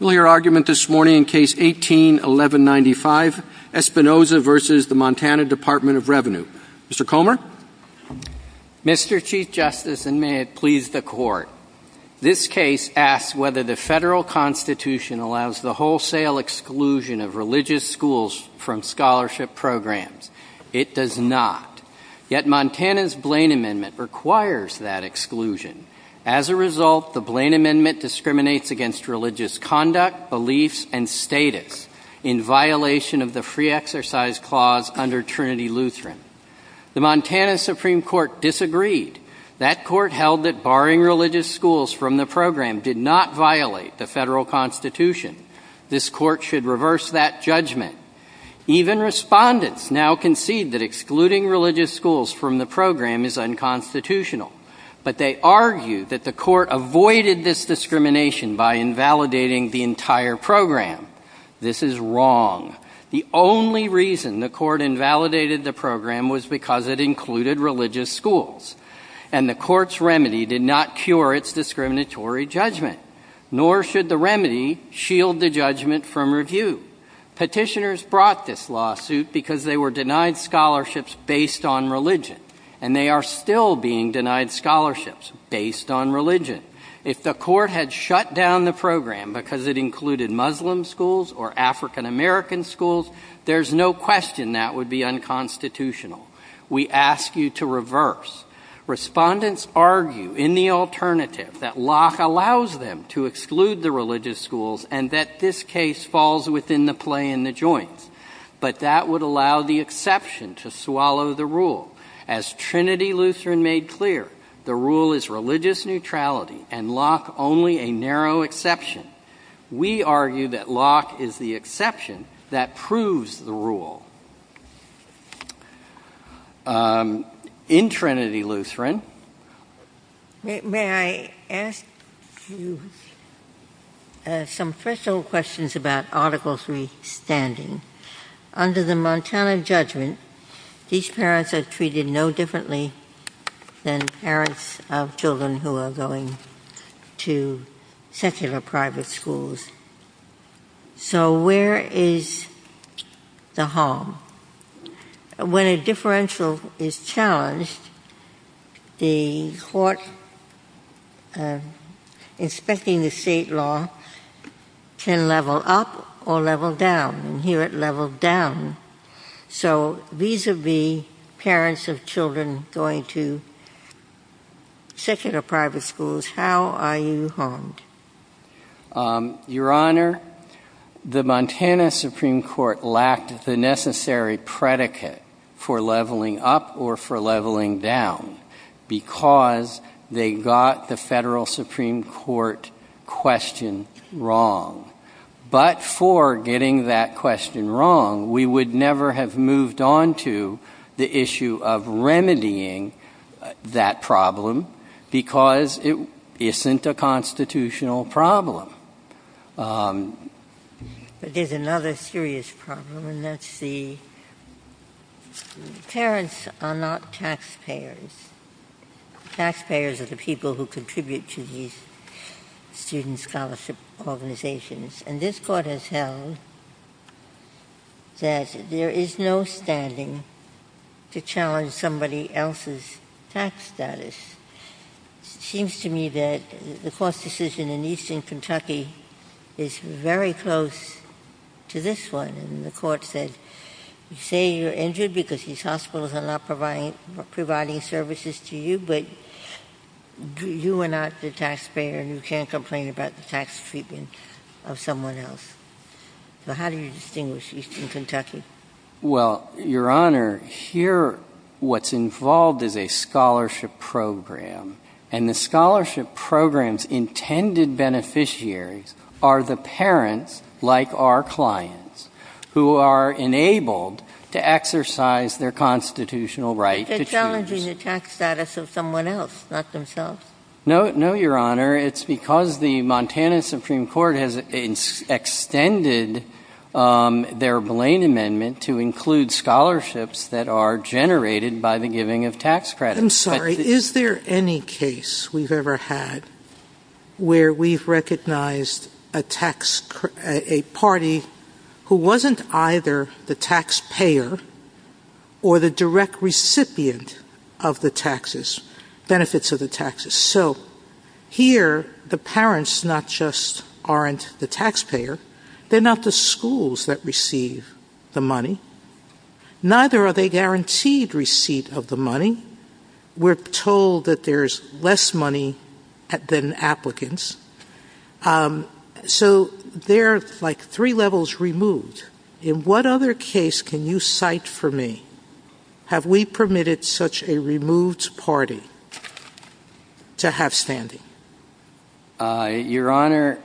We'll hear argument this morning in Case 18-1195, Espinoza v. Montana Dept. of Revenue. Mr. Comer? Mr. Chief Justice, and may it please the Court, this case asks whether the federal Constitution allows the wholesale exclusion of religious schools from scholarship programs. It does not. Yet Montana's Blaine Amendment requires that exclusion. As a result, the Blaine Amendment discriminates against religious conduct, beliefs, and status in violation of the Free Exercise Clause under Trinity Lutheran. The Montana Supreme Court disagreed. That Court held that barring religious schools from the program did not violate the federal Constitution. This Court should reverse that judgment. Even respondents now concede that excluding religious schools from the program is unconstitutional. But they argue that the Court avoided this discrimination by invalidating the entire program. This is wrong. The only reason the Court invalidated the program was because it included religious schools. And the Court's remedy did not cure its discriminatory judgment. Nor should the remedy shield the judgment from review. Petitioners brought this lawsuit because they were denied scholarships based on religion. And they are still being denied scholarships based on religion. If the Court had shut down the program because it included Muslim schools or African-American schools, there's no question that would be unconstitutional. We ask you to reverse. Respondents argue, in the alternative, that Locke allows them to exclude the religious schools and that this case falls within the play in the joints. But that would allow the exception to swallow the rule. As Trinity Lutheran made clear, the rule is religious neutrality and Locke only a narrow exception. We argue that Locke is the exception that proves the rule. In Trinity Lutheran — JUSTICE GINSBURG May I ask you some threshold questions about Article III standing? Under the Montana judgment, these parents are treated no differently than parents of children who are going to secular private schools. So where is the harm? When a differential is challenged, the Court inspecting the state law can level up, or it can level down. Here it leveled down. So vis-a-vis parents of children going to secular private schools, how are you harmed? MR. BARROWS Your Honor, the Montana Supreme Court lacked the necessary predicate for leveling up or for leveling down because they got the federal judgment. And therefore, getting that question wrong, we would never have moved on to the issue of remedying that problem, because it isn't a constitutional problem. JUSTICE GINSBURG But there's another serious problem, and that's the — parents are not taxpayers. Taxpayers are the people who contribute to these student scholarship organizations. And this Court has held that there is no standing to challenge somebody else's tax status. It seems to me that the Court's decision in Eastern Kentucky is very close to this one. And the Court said, you say you're injured because these hospitals are not providing services to you, but you are not the taxpayer and you can't complain about the tax treatment of someone else. So how do you distinguish Eastern MR. BARROWS Well, Your Honor, here what's involved is a scholarship program. And the scholarship program's intended beneficiaries are the parents, like our clients, who are enabled to exercise their constitutional right to choose. JUSTICE GINSBURG But they're challenging the tax status of someone else, not themselves. MR. BARROWS No, Your Honor. It's because the Montana Supreme Court has extended their Blaine Amendment to include scholarships that are generated by the giving of tax credits. JUSTICE SOTOMAYOR I'm sorry. Is there any case we've ever had where we've recognized a party who wasn't either the taxpayer or the direct recipient of the taxes, benefits of the taxes? So here the parents not just aren't the taxpayer. They're not the schools that receive the money. Neither are they guaranteed receipt of the money. We're told that there's less money than applicants. So they're like three levels removed. In what other case can you cite for me, have we permitted such a removed party to have standing? MR. BARROWS Your Honor,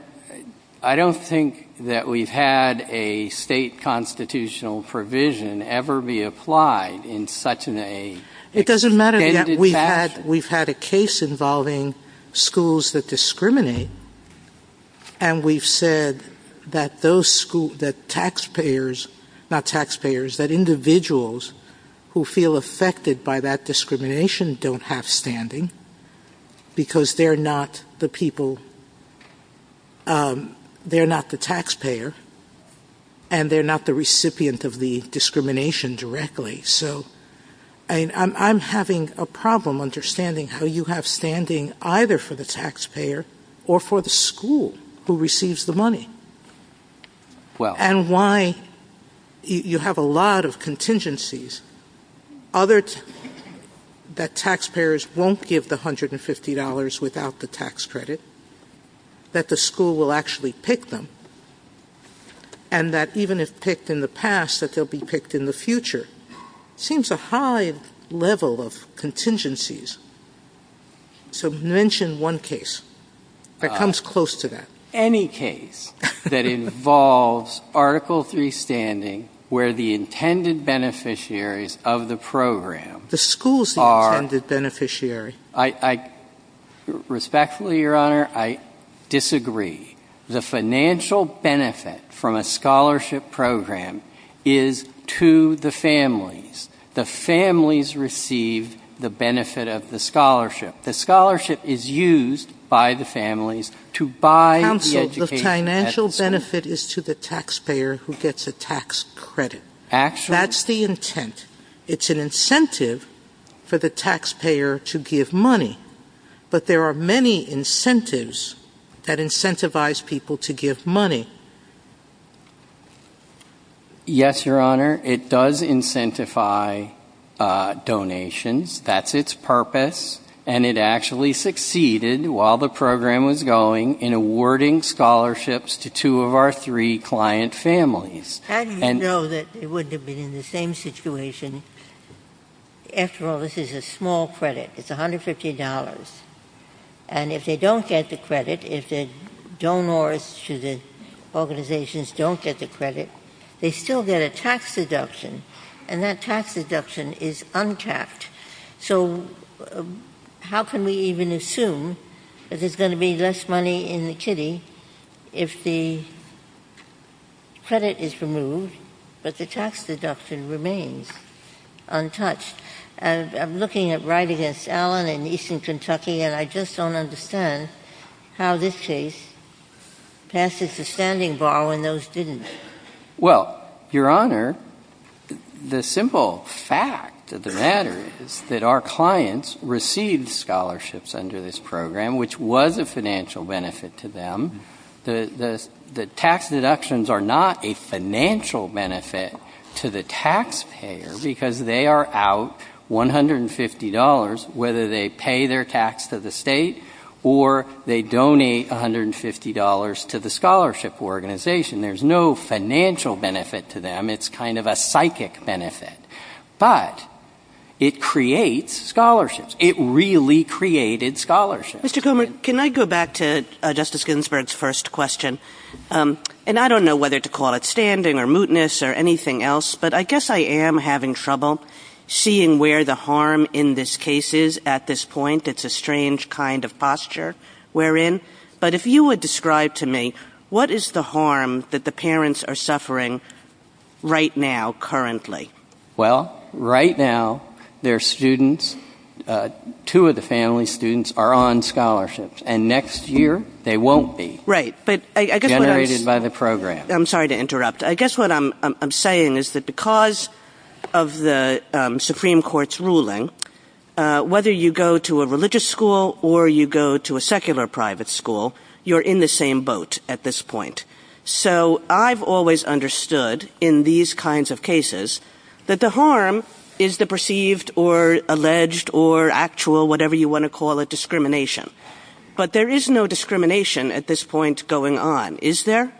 I don't think that we've had a state constitutional provision ever be applied in such an extended fashion. JUSTICE SOTOMAYOR It doesn't matter. We've had a case involving schools that discriminate, and we've said that those schools, that taxpayers, not taxpayers, that individuals who feel affected by that discrimination don't have standing because they're not the people, they're not the taxpayer, and they're not the recipient of the discrimination directly. So I'm having a problem understanding how you have standing either for the taxpayer or for the school who receives the money. And why you have a lot of contingencies, other than just that taxpayers won't give the $150 without the tax credit, that the school will actually pick them, and that even if picked in the past, that they'll be picked in the future. Seems a high level of contingencies. So mention one case that comes close to that. MR. BARROWS Any case that involves Article III standing where the intended beneficiaries of the program are the school's intended beneficiary. JUSTICE SOTOMAYOR Respectfully, Your Honor, I disagree. The financial benefit from a scholarship program is to the families. The families receive the benefit of the scholarship. The scholarship is used by the families to buy the education and the financial benefit is to the taxpayer who gets a tax credit. That's the intent. It's an incentive for the taxpayer to give money. But there are many incentives that incentivize people to give money. MR. BARROWS Yes, Your Honor. It does incentivize donations. That's its purpose. And it actually succeeded while the program was going in awarding scholarships to two of our three client families. JUSTICE GINSBURG How do you know that it wouldn't have been in the same situation? After all, this is a small credit. It's $150. And if they don't get the credit, if the donors to the organizations don't get the credit, they still get a tax deduction. And that tax deduction is untapped. So how can we even assume that there's going to be less money in the kitty if the credit is removed but the tax deduction remains untouched? I'm looking at right against Allen in Eastern Kentucky and I just don't understand how this case passes the standing bar when those didn't. MR. BARROWS Well, Your Honor, the simple fact of the matter is that our clients received scholarships under this program, which was a financial benefit to them. The tax deductions are not a financial benefit to the taxpayer because they are out $150, whether they pay their tax to the State or they donate $150 to the scholarship organization. There's no financial benefit to them. It's kind of a psychic benefit. But it creates scholarships. It really created scholarships. MS. GINSBURG Mr. Comer, can I go back to Justice Ginsburg's first question? And I don't know whether to call it standing or mootness or anything else, but I guess I am having trouble seeing where the harm in this case is at this point. It's a strange kind of posture we're in. But if you would describe to me what is the harm that the parents are suffering right now currently? MR. COMER Well, right now, their students, two of the family's students, are on scholarships. And next year, they won't be generated by the program. MS. GINSBURG I'm sorry to interrupt. I guess what I'm saying is that because of the Supreme Court's ruling, whether you go to a religious school or you go to a secular private school, you're in the same boat at this point. So I've always understood in these kinds of cases that the harm is the perceived or alleged or actual, whatever you want to call it, discrimination. But there is no discrimination at this point going on, is there? MR.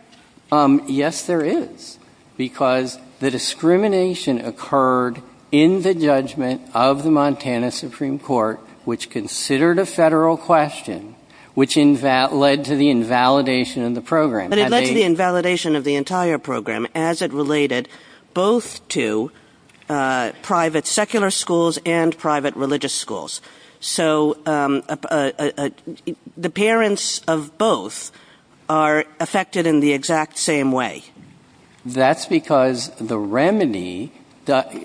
COMER Yes, there is. Because the discrimination occurred in the judgment of the Montana Supreme Court, which considered a federal question, which led to the invalidation of the program. MS. GINSBURG But it led to the invalidation of the entire program as it related both to private secular schools and private religious schools. So the parents of both are affected in the exact same way. MR. COMER That's because the remedy,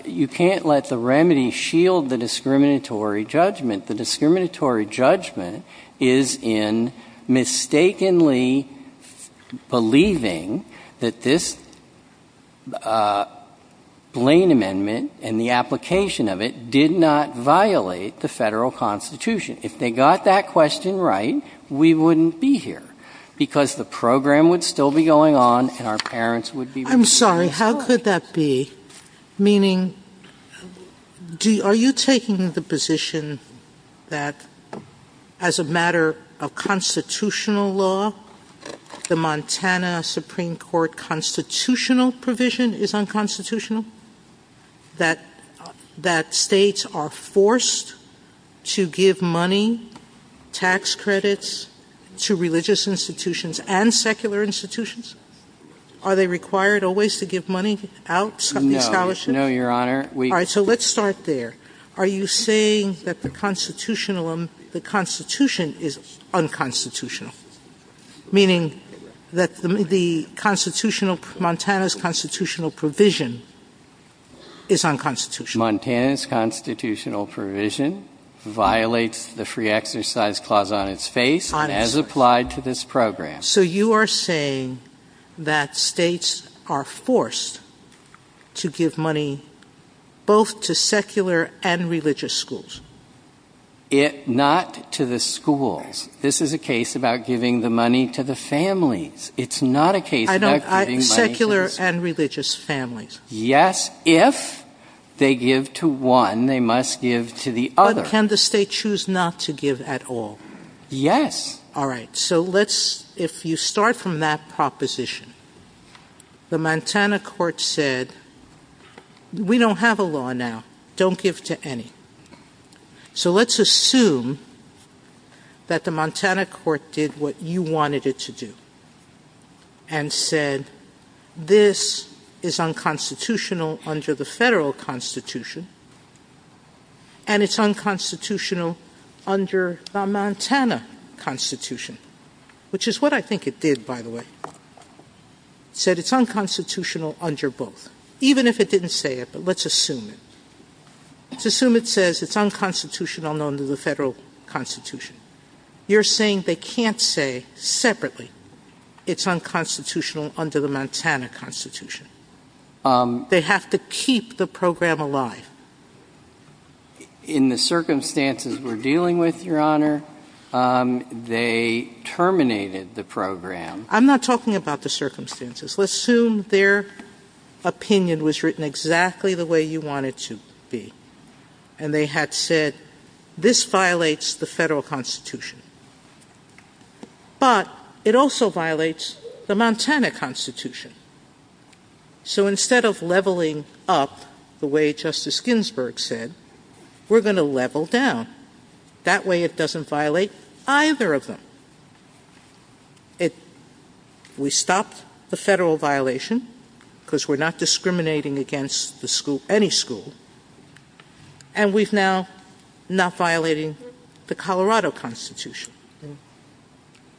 you can't let the remedy shield the discriminatory judgment. The discriminatory judgment is in mistakenly believing that this Blaine Amendment and the application of it did not violate the federal Constitution. If they got that question right, we wouldn't be here because the program would still be going on and our parents would be ---- MS. GINSBURG I'm sorry, how could that be? Meaning, are you taking the position that as a matter of constitutional law, the Montana Supreme Court constitutional provision is unconstitutional? That states are forced to give money, tax credits, to religious institutions and secular institutions? Are they required always to give money out of these scholarships? MR. COMER No, Your Honor. MS. GINSBURG All right. So let's start there. Are you saying that the Constitution is unconstitutional? Meaning, that the constitutional, Montana's constitutional provision is unconstitutional? MR. COMER Montana's constitutional provision violates the free exercise clause on its face and as applied to this program. MS. GINSBURG So you are saying that states are forced to give money both to secular and religious schools? MR. COMER Not to the schools. This is a case about giving the money to the families. It's not a case about giving money to the schools. MS. GINSBURG Secular and religious families. MR. COMER Yes, if they give to one, they must give to the other. MS. GINSBURG But can the state choose not to give at all? MR. COMER Yes. MS. GINSBURG All right. So let's, if you start from that proposition, the Montana court said, we don't have a law now. Don't give to any. So let's assume that the Montana court did what you wanted it to do and said, this is unconstitutional under the federal Constitution and it's unconstitutional under the Montana Constitution, which is what I think it did, by the way. It said it's unconstitutional under both. Even if it didn't say it, but let's assume it. Let's assume it says it's unconstitutional under the federal Constitution. You're saying they can't say separately it's unconstitutional under the Montana Constitution. They have to keep the program alive. MR. COMER In the circumstances we're dealing with, Your Honor, they terminated the program. MS. GINSBURG I'm not talking about the circumstances. Let's assume their opinion was written exactly the way you want it to be. And they had said, this violates the federal Constitution. But it also violates the Montana Constitution. So instead of leveling up the way Justice Ginsburg said, we're going to level down. That way it doesn't violate either of them. It, we stopped the federal violation because we're not discriminating against the school, any school. And we've now not violating the Colorado Constitution.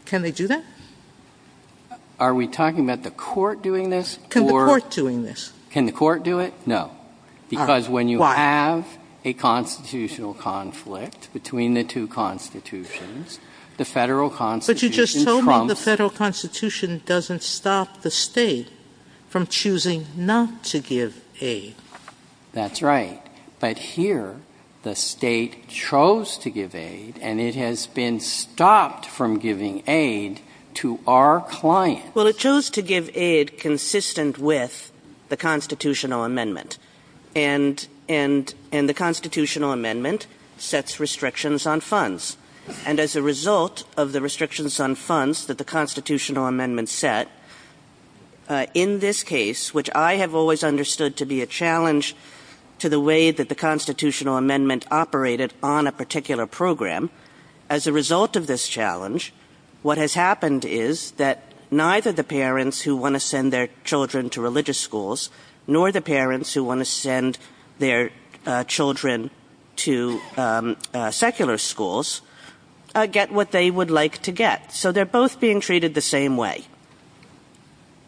Can they do that? MR. COMER Are we talking about the court doing this? MS. GINSBURG Can the court doing this? MR. COMER Can the court do it? No. Because when you have a constitutional conflict between the two Constitutions, the federal Constitution trumps MS. GINSBURG But you just told me the federal Constitution doesn't stop the state from choosing not to give aid. MR. COMER That's right. But here the state chose to give aid. And it has been stopped from giving aid to our clients. MS. GINSBURG Well, it chose to give aid consistent with the constitutional amendment. And, and, and the constitutional amendment sets restrictions on funds. And as a result of the restrictions on funds that the constitutional amendment set, in this case, which I have always understood to be a challenge to the way that the constitutional amendment operated on a particular program, as a result of this challenge, what has happened is that neither the parents who want to send their children to religious schools, nor the parents who want to send their children to secular schools, get what they would like to get. So they're both being treated the MR.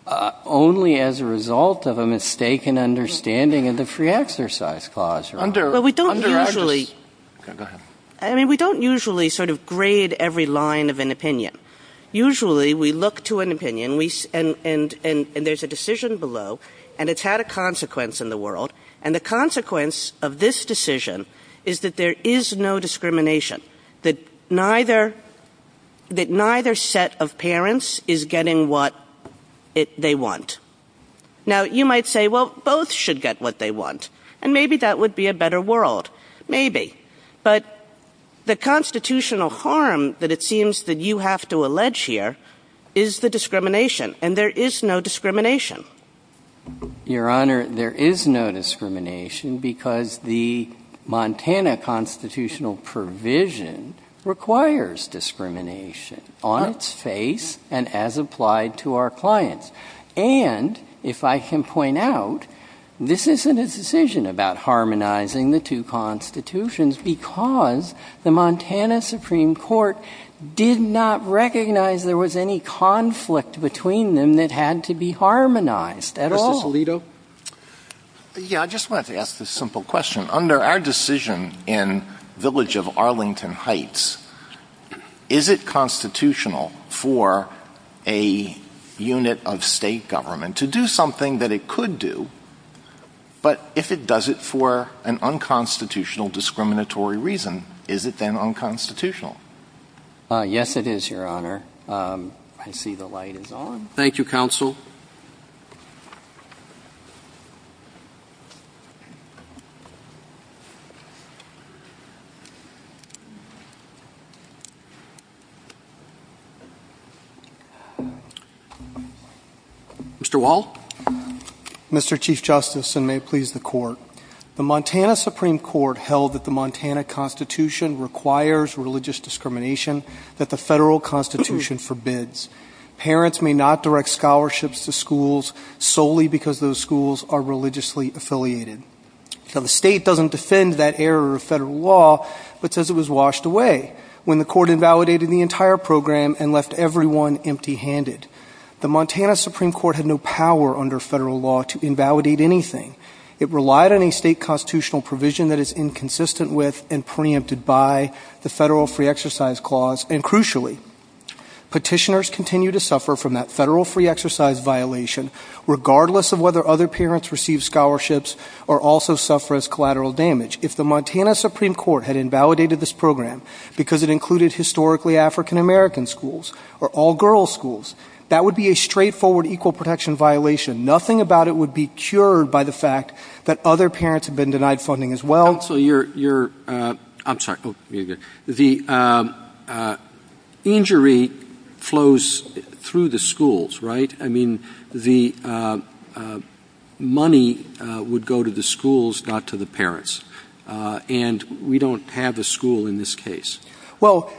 KNEEDLER Only as a result of a mistaken understanding of the free exercise clause. MS. GINSBURG Well, we don't usually, I mean, we don't usually sort of grade every line of an opinion. Usually we look to an opinion, and there's a decision below, and it's had a consequence in the world. And the consequence of this decision is that there is no discrimination, that neither, that neither set of parents is getting what they want. Now, you might say, well, both should get what they want. And maybe that would be a better world. Maybe. But the constitutional harm that it seems that you have to allege here is the discrimination, and there is no discrimination. MR. KNEEDLER Your Honor, there is no discrimination because the Montana constitutional provision requires discrimination on its face and as applied to our clients. And if I can point out, this isn't a decision about harmonizing the two constitutions because the Montana Supreme Court did not recognize there was any conflict between them that had to be harmonized MR. GARRETT Mr. Solito? MR. SOLITO Yeah, I just wanted to ask this simple question. Under our decision in Village of Arlington Heights, is it constitutional for a unit of state government to do something that it could do, but if it does it for an unconstitutional discriminatory reason, is it then unconstitutional? MR. GARRETT Yes, it is, Your Honor. I see the light is on. MR. KNEEDLER Thank you, counsel. MR. WALL Mr. Chief Justice, and may it please the Court, the Montana Supreme Court held that the Montana Constitution requires religious discrimination that the federal Constitution forbids. Parents may not direct scholarships to schools solely because those schools are religiously affiliated. Now the state doesn't defend that error of federal law, but says it was washed away when the Court invalidated the entire program and left everyone empty handed. The Montana Supreme Court had no power under federal law to invalidate anything. It relied on a state constitutional provision that is inconsistent with and preempted by the Federal Free Exercise Clause, and crucially, petitioners continue to suffer from that Federal Free Exercise violation regardless of whether other parents receive scholarships or also suffer as collateral damage. If the Montana Supreme Court had invalidated this program because it included historically African-American schools or all-girls schools, that would be a straightforward equal protection violation. Nothing about it would be cured by the fact that other parents have been denied funding as well. Counsel, you're, you're, I'm sorry, the injury flows through the schools, right? I mean, the money would go to the schools, not to the parents, and we don't have a school in this case. Well,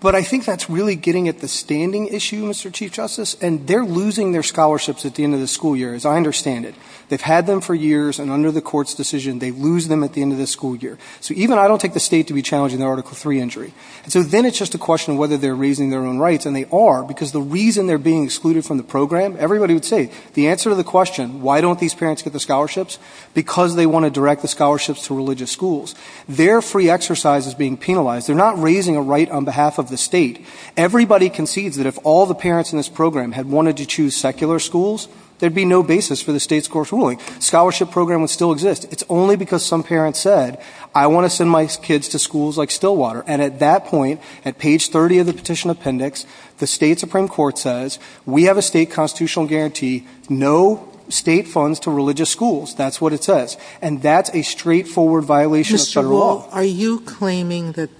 but I think that's really getting at the standing issue, Mr. Chief Justice, and they're losing their scholarships at the end of the school year, as I understand it. They've had them for years, and under the Court's decision, they lose them at the end of the school year. So even I don't take the State to be challenging their Article III injury. And so then it's just a question of whether they're raising their own rights, and they are, because the reason they're being excluded from the program, everybody would say, the answer to the question, why don't these parents get the scholarships, because they want to direct the scholarships to religious schools. Their free exercise is being penalized. They're not raising a right on behalf of the State. Everybody concedes that if all the parents in this program had wanted to choose secular schools, there'd be no basis for the State's Court's ruling. Scholarship program would still exist. It's only because some parents said, I want to send my kids to schools like Stillwater. And at that point, at page 30 of the petition appendix, the State Supreme Court says, we have a State constitutional guarantee, no State funds to religious schools. That's what it says. And that's a straightforward violation of Federal law. Mr. Wall, are you claiming that,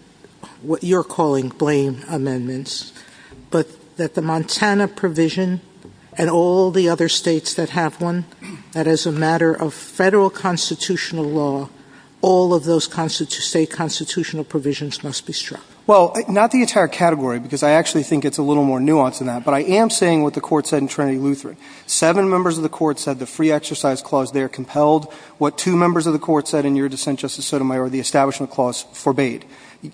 what you're calling blame amendments, but that the Montana provision and all the other States that have one, that as a matter of Federal constitutional law, all of those State constitutional provisions must be struck? Well, not the entire category, because I actually think it's a little more nuanced than that. But I am saying what the Court said in Trinity Lutheran. Seven members of the Court said the free exercise clause there compelled what two members of the Court said in your dissent, Justice Sotomayor, the establishment clause forbade.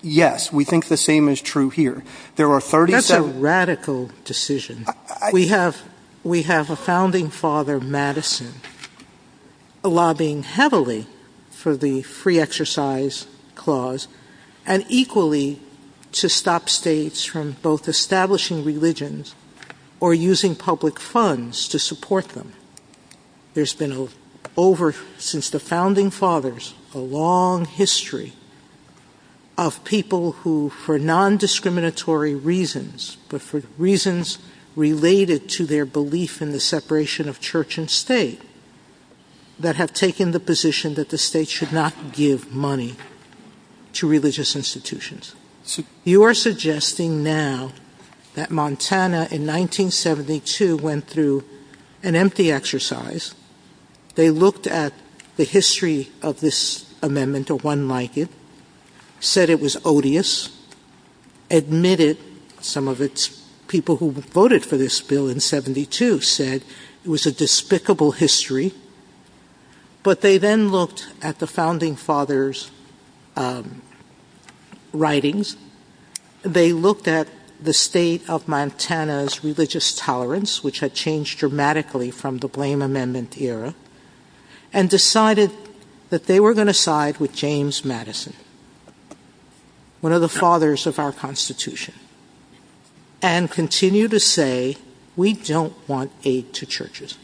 Yes, we think the same is true here. There are 37 — That's a radical decision. We have, we have a founding father, Madison, lobbying heavily for the free exercise clause and equally to stop States from both establishing religions or using public funds to support them. There's been over, since the founding fathers, a long history of people who, for nondiscriminatory reasons, but for reasons related to their belief in the separation of church and State, that have taken the position that the State should not give money to religious institutions. You are suggesting now that Montana in 1972 went through an empty exercise. They looked at the history of this amendment or one like it, said it was odious, admitted some of its people who voted for this bill in 72 said it was a despicable history. But they then looked at the founding father's writings. They looked at the State of Montana's religious tolerance, which had changed dramatically from the Blame Amendment era, and decided that they were going to side with James Madison, one of the fathers of our Constitution, and continue to say we don't want aid to churches.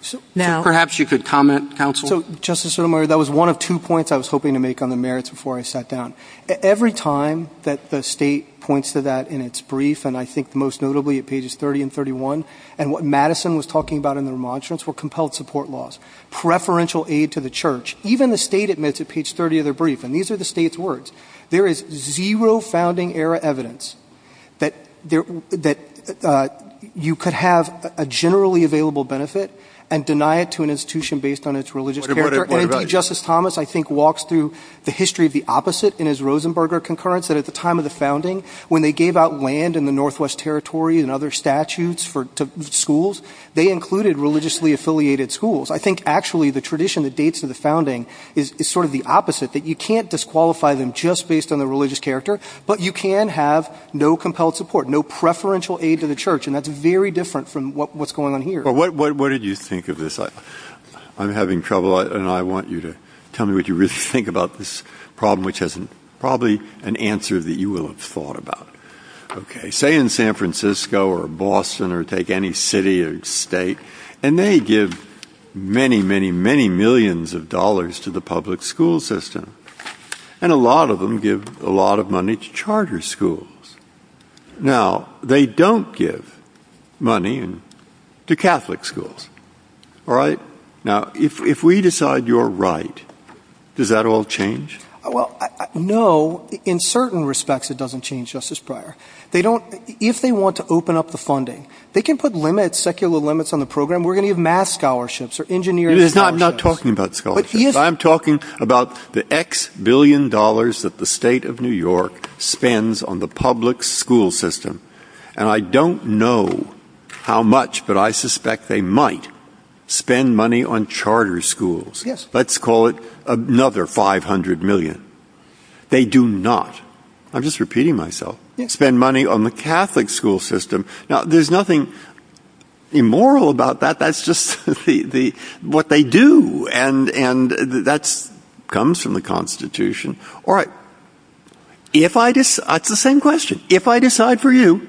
So now — Perhaps you could comment, counsel. So, Justice Sotomayor, that was one of two points I was hoping to make on the merits before I sat down. Every time that the State points to that in its brief, and I think most notably at pages 30 and 31, and what Madison was talking about in the remonstrance, were compelled support laws, preferential aid to the church. Even the State admits at page 30 of their brief, and these are the State's words, there is zero founding-era evidence that you could have a generally available benefit and deny it to an institution based on its religious character. What about — And D. Justice Thomas, I think, walks through the history of the opposite in his Rosenberger concurrence that at the time of the founding, when they gave out land in the Northwest Territory and other statutes to schools, they included religiously-affiliated schools. I think, actually, the tradition that dates to the founding is sort of the opposite, that you can't disqualify them just based on their religious character, but you can have no compelled support, no preferential aid to the church, and that's very different from what's going on here. What did you think of this? I'm having trouble, and I want you to tell me what you really think about this problem, which has probably an answer that you will have thought about. Okay, say in San Francisco or Boston or take any city or state, and they give many, many, many millions of dollars to the public school system, and a lot of them give a lot of money to charter schools. Now, they don't give money to Catholic schools, all right? Now, if we decide you're right, does that all change? Well, no. In certain respects, it doesn't change, Justice Breyer. If they want to open up the funding, they can put limits, secular limits on the program. We're going to give math scholarships or engineering scholarships. I'm not talking about scholarships. I'm talking about the X billion dollars that the state of New York spends on the public school system, and I don't know how much, but I suspect they might spend money on charter schools. Let's call it another 500 million. They do not, I'm just repeating myself, spend money on the Catholic school system. Now, there's nothing immoral about that. That's just what they do, and that comes from the Constitution. All right, it's the same question. If I decide for you,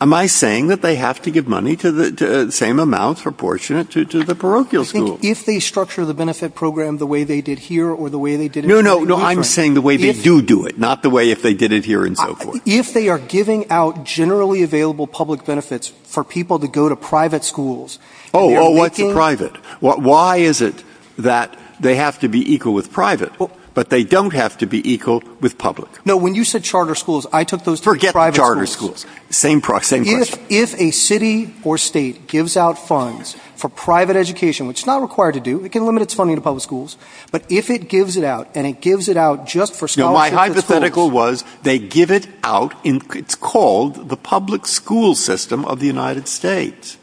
am I saying that they have to give money to the same amount, proportionate to the parochial schools? If they structure the benefit program the way they did here or the way they did in New York. No, no, I'm saying the way they do do it, not the way if they did it here and so forth. If they are giving out generally available public benefits for people to go to private schools, and they're making... Oh, oh, what's private? Why is it that they have to be equal with private, but they don't have to be equal with public? No, when you said charter schools, I took those to private schools. Forget charter schools. Same question. If a city or state gives out funds for private education, which it's not required to do, it can limit its funding to public schools, but if it gives it out and it gives it out just for scholarship to schools... No, my hypothetical was they give it out in, it's called the public school system of the United States.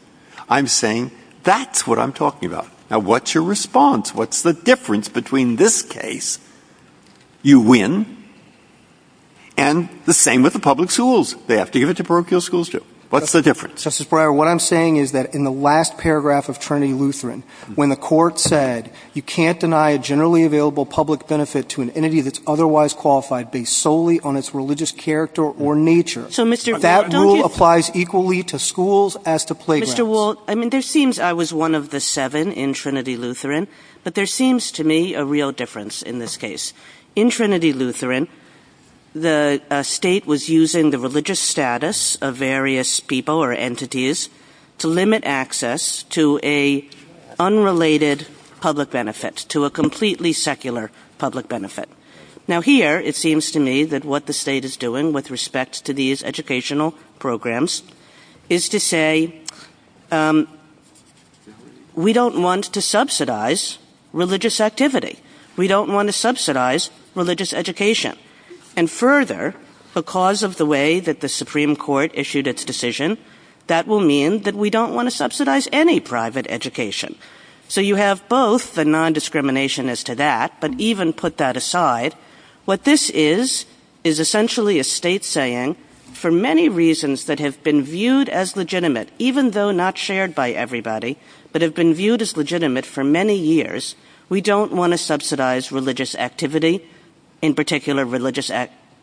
I'm saying that's what I'm talking about. Now, what's your response? What's the difference between this case? You win, and the same with the public schools. They have to give it to parochial schools, too. What's the difference? Justice Breyer, what I'm saying is that in the last paragraph of Trinity Lutheran, when the Court said you can't deny a generally available public benefit to an entity that's otherwise qualified based solely on its religious character or nature... So, Mr. Wold, don't you... That rule applies equally to schools as to playgrounds. Mr. Wold, I mean, there seems, I was one of the seven in Trinity Lutheran, but there seems to me a real difference in this case. In Trinity Lutheran, the State was using the religious status of various people or entities to limit access to an unrelated public benefit, to a completely secular public benefit. Now here, it seems to me that what the State is doing with respect to these educational programs is to say, we don't want to subsidize religious activity. We don't want to subsidize religious education. And further, because of the way that the Supreme Court issued its decision, that will mean that we don't want to subsidize any private education. So you have both the non-discrimination as to that, but even put that aside, what this is, is essentially a State saying, for many reasons that have been viewed as legitimate, even though not shared by everybody, but have been viewed as legitimate for many years, we don't want to subsidize religious activity, in particular religious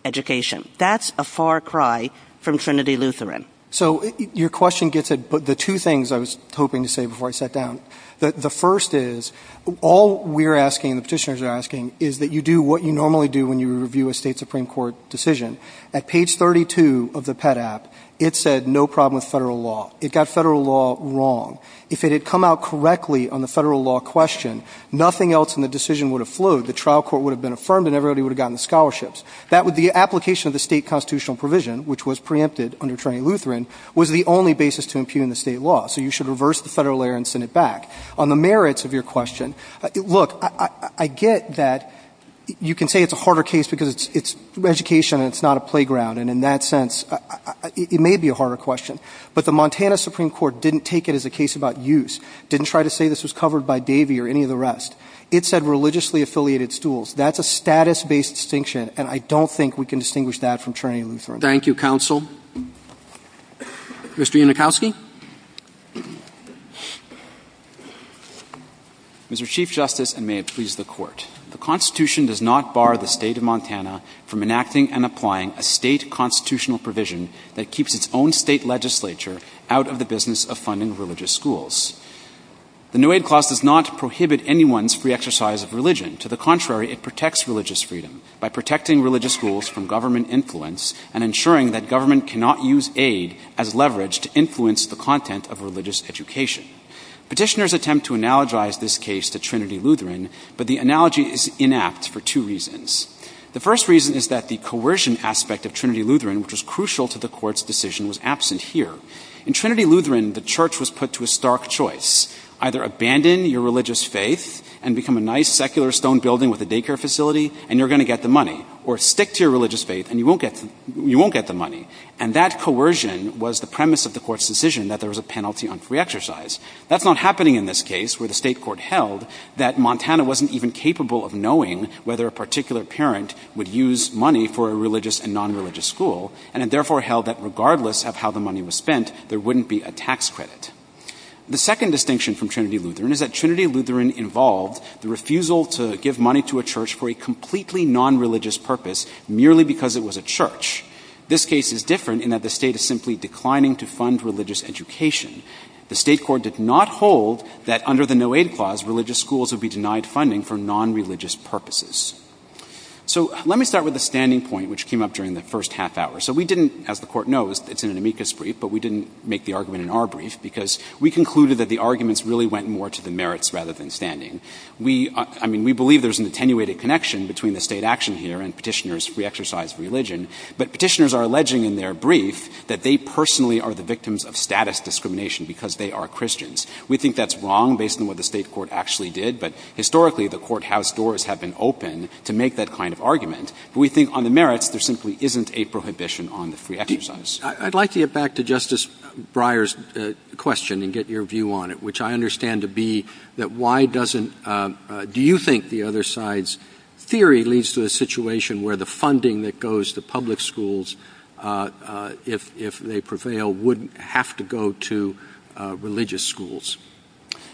education. That's a far cry from Trinity Lutheran. So your question gets at the two things I was hoping to say before I sat down. The first is, all we're asking, the petitioners are asking, is that you do what you normally do when you review a State Supreme Court decision. At page 32 of the PET app, it said no problem with federal law. It got federal law wrong. If it had come out correctly on the federal law question, nothing else in the decision would have flowed. The trial court would have been affirmed and everybody would have gotten the scholarships. The application of the State constitutional provision, which was preempted under Trinity Lutheran, was the only basis to impugn the State law. So you should reverse the federal layer and send it back. On the merits of your question, look, I get that you can say it's a harder case because it's education and it's not a playground, and in that sense, it may be a harder question. But the Montana Supreme Court didn't take it as a case about use, didn't try to say this was covered by Davey or any of the rest. It said religiously affiliated stools. That's a status-based distinction, and I don't think we can distinguish that from Trinity Lutheran. Thank you, counsel. Mr. Unikowski. Mr. Chief Justice, and may it please the Court, the Constitution does not bar the State of Montana from enacting and applying a State constitutional provision that keeps its own State legislature out of the business of funding religious schools. The new aid clause does not prohibit anyone's free exercise of religion. To the contrary, it protects religious freedom by protecting religious schools from government influence and ensuring that government cannot use aid as leverage to influence the content of religious education. Petitioners attempt to analogize this case to Trinity Lutheran, but the analogy is inapt for two reasons. The first reason is that the coercion aspect of Trinity Lutheran, which was crucial to the Court's decision, was absent here. In Trinity Lutheran, the Church was and become a nice secular stone building with a daycare facility, and you're going to get the money, or stick to your religious faith and you won't get the money. And that coercion was the premise of the Court's decision that there was a penalty on free exercise. That's not happening in this case, where the State court held that Montana wasn't even capable of knowing whether a particular parent would use money for a religious and nonreligious school, and it therefore held that regardless of how the money was spent, there wouldn't be a tax credit. The second distinction from Trinity Lutheran is that Trinity Lutheran involved the refusal to give money to a church for a completely nonreligious purpose merely because it was a church. This case is different in that the State is simply declining to fund religious education. The State court did not hold that under the no-aid clause, religious schools would be denied funding for nonreligious purposes. So let me start with the standing point which came up during the first half hour. So we didn't, as the Court knows, it's in an amicus brief, but we didn't make the argument in our brief because we concluded that the arguments really went more to the merits rather than standing. We, I mean, we believe there's an attenuated connection between the State action here and Petitioner's free exercise religion, but Petitioners are alleging in their brief that they personally are the victims of status discrimination because they are Christians. We think that's wrong based on what the State court actually did, but historically the courthouse doors have been open to make that kind of argument. But we think on the merits, there simply isn't a prohibition on the free exercise. I'd like to get back to Justice Breyer's question and get your view on it, which I understand to be that why doesn't, do you think the other side's theory leads to a situation where the funding that goes to public schools, if they prevail, wouldn't have to go to religious schools?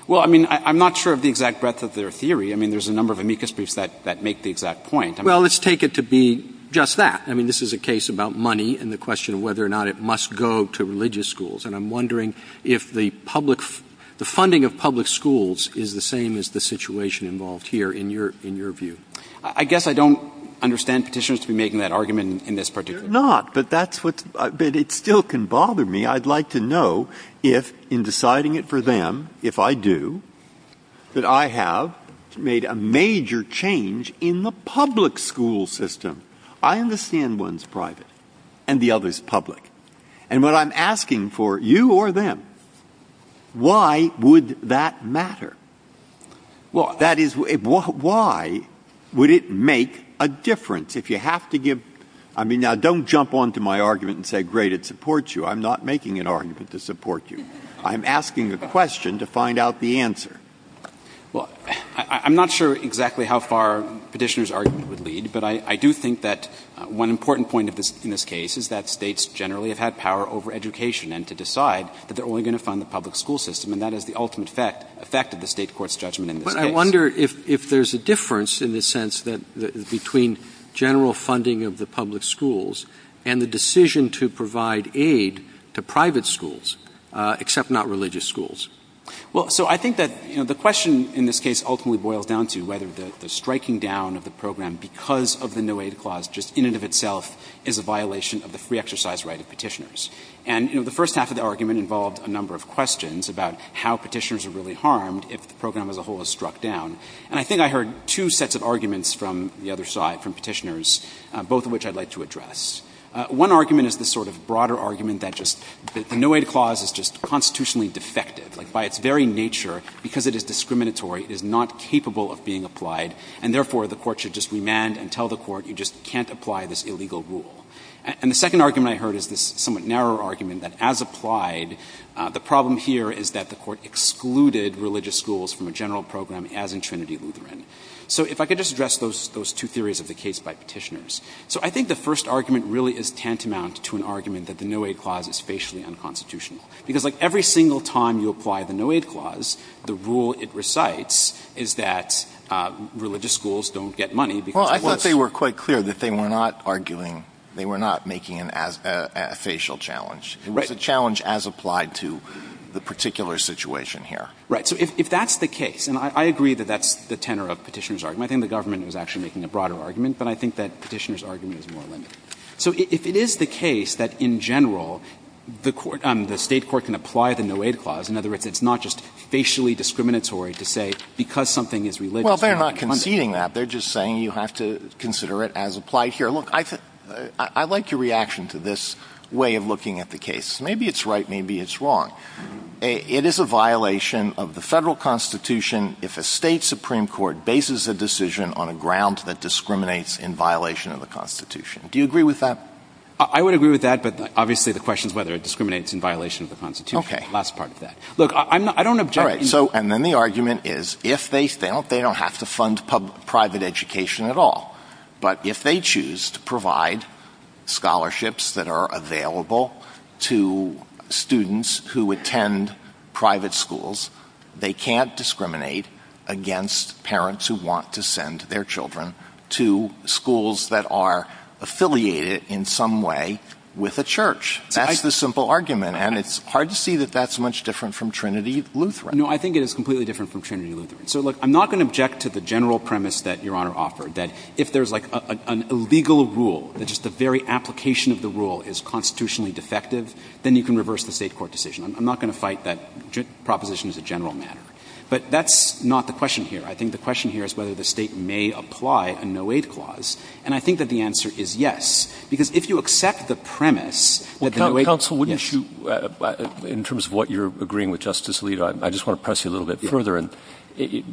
Well, I mean, I'm not sure of the exact breadth of their theory. I mean, there's a number of amicus briefs that make the exact point. Well, let's take it to be just that. I mean, this is a case about money and the question of whether or not it must go to religious schools. And I'm wondering if the public – the funding of public schools is the same as the situation involved here in your view. I guess I don't understand Petitioners to be making that argument in this particular case. They're not, but that's what's – but it still can bother me. I'd like to know if, in deciding it for them, if I do, that I have made a major change in the public school system. I understand one's private and the other's public. And what I'm asking for, you or them, why would that matter? Well, that is, why would it make a difference if you have to give – I mean, now, don't jump onto my argument and say, great, it supports you. I'm not making an argument to support you. I'm asking a question to find out the answer. Well, I'm not sure exactly how far Petitioners' argument would lead, but I do think that one important point in this case is that States generally have had power over education and to decide that they're only going to fund the public school system. And that is the ultimate effect of the State court's judgment in this case. But I wonder if there's a difference in the sense that – between general funding of the public schools and the decision to provide aid to private schools, except not religious schools. Well, so I think that, you know, the question in this case ultimately boils down to whether the striking down of the program because of the no-aid clause just in and of itself is a violation of the free exercise right of Petitioners. And, you know, the first half of the argument involved a number of questions about how Petitioners are really harmed if the program as a whole is struck down. And I think I heard two sets of arguments from the other side, from Petitioners, both of which I'd like to address. One argument is the sort of broader argument that just the no-aid clause is just constitutionally defective, like by its very nature, because it is discriminatory, it is not capable of being applied, and therefore the court should just remand and tell the court you just can't apply this illegal rule. And the second argument I heard is this somewhat narrower argument that as applied, the problem here is that the court excluded religious schools from a general program as in Trinity Lutheran. So if I could just address those two theories of the case by Petitioners. So I think the first argument really is tantamount to an argument that the no-aid clause is facially unconstitutional, because, like, every single time you apply the no-aid clause, the rule it recites is that religious schools don't get money Alitoso, I thought they were quite clear that they were not arguing, they were not making a facial challenge. It was a challenge as applied to the particular situation here. Right. So if that's the case, and I agree that that's the tenor of Petitioners' argument. I think the government was actually making a broader argument, but I think that Petitioners' argument is more limited. So if it is the case that in general, the state court can apply the no-aid clause, in other words, it's not just facially discriminatory to say because something is religious. Well, they're not conceding that. They're just saying you have to consider it as applied here. Look, I like your reaction to this way of looking at the case. Maybe it's right, maybe it's wrong. It is a violation of the Federal Constitution if a State supreme court bases a decision on a ground that discriminates in violation of the Constitution. Do you agree with that? I would agree with that, but obviously the question is whether it discriminates in violation of the Constitution, the last part of that. Look, I'm not, I don't object. All right. So, and then the argument is if they, they don't, they don't have to fund private education at all, but if they choose to provide scholarships that are available to students who attend private schools, they can't discriminate against parents who want to send their children to schools that are affiliated in some way with a church. That's the simple argument. And it's hard to see that that's much different from Trinity Lutheran. No, I think it is completely different from Trinity Lutheran. So look, I'm not going to object to the general premise that Your Honor offered, that if there's like a legal rule that just the very application of the rule is constitutionally defective, then you can reverse the State court decision. I'm not going to fight that proposition as a general matter, but that's not the question here. I think the question here is whether the State may apply a no-aid clause. And I think that the answer is yes, because if you accept the premise that the no-aid counsel wouldn't shoot in terms of what you're agreeing with Justice Alito, I just want to press you a little bit further. And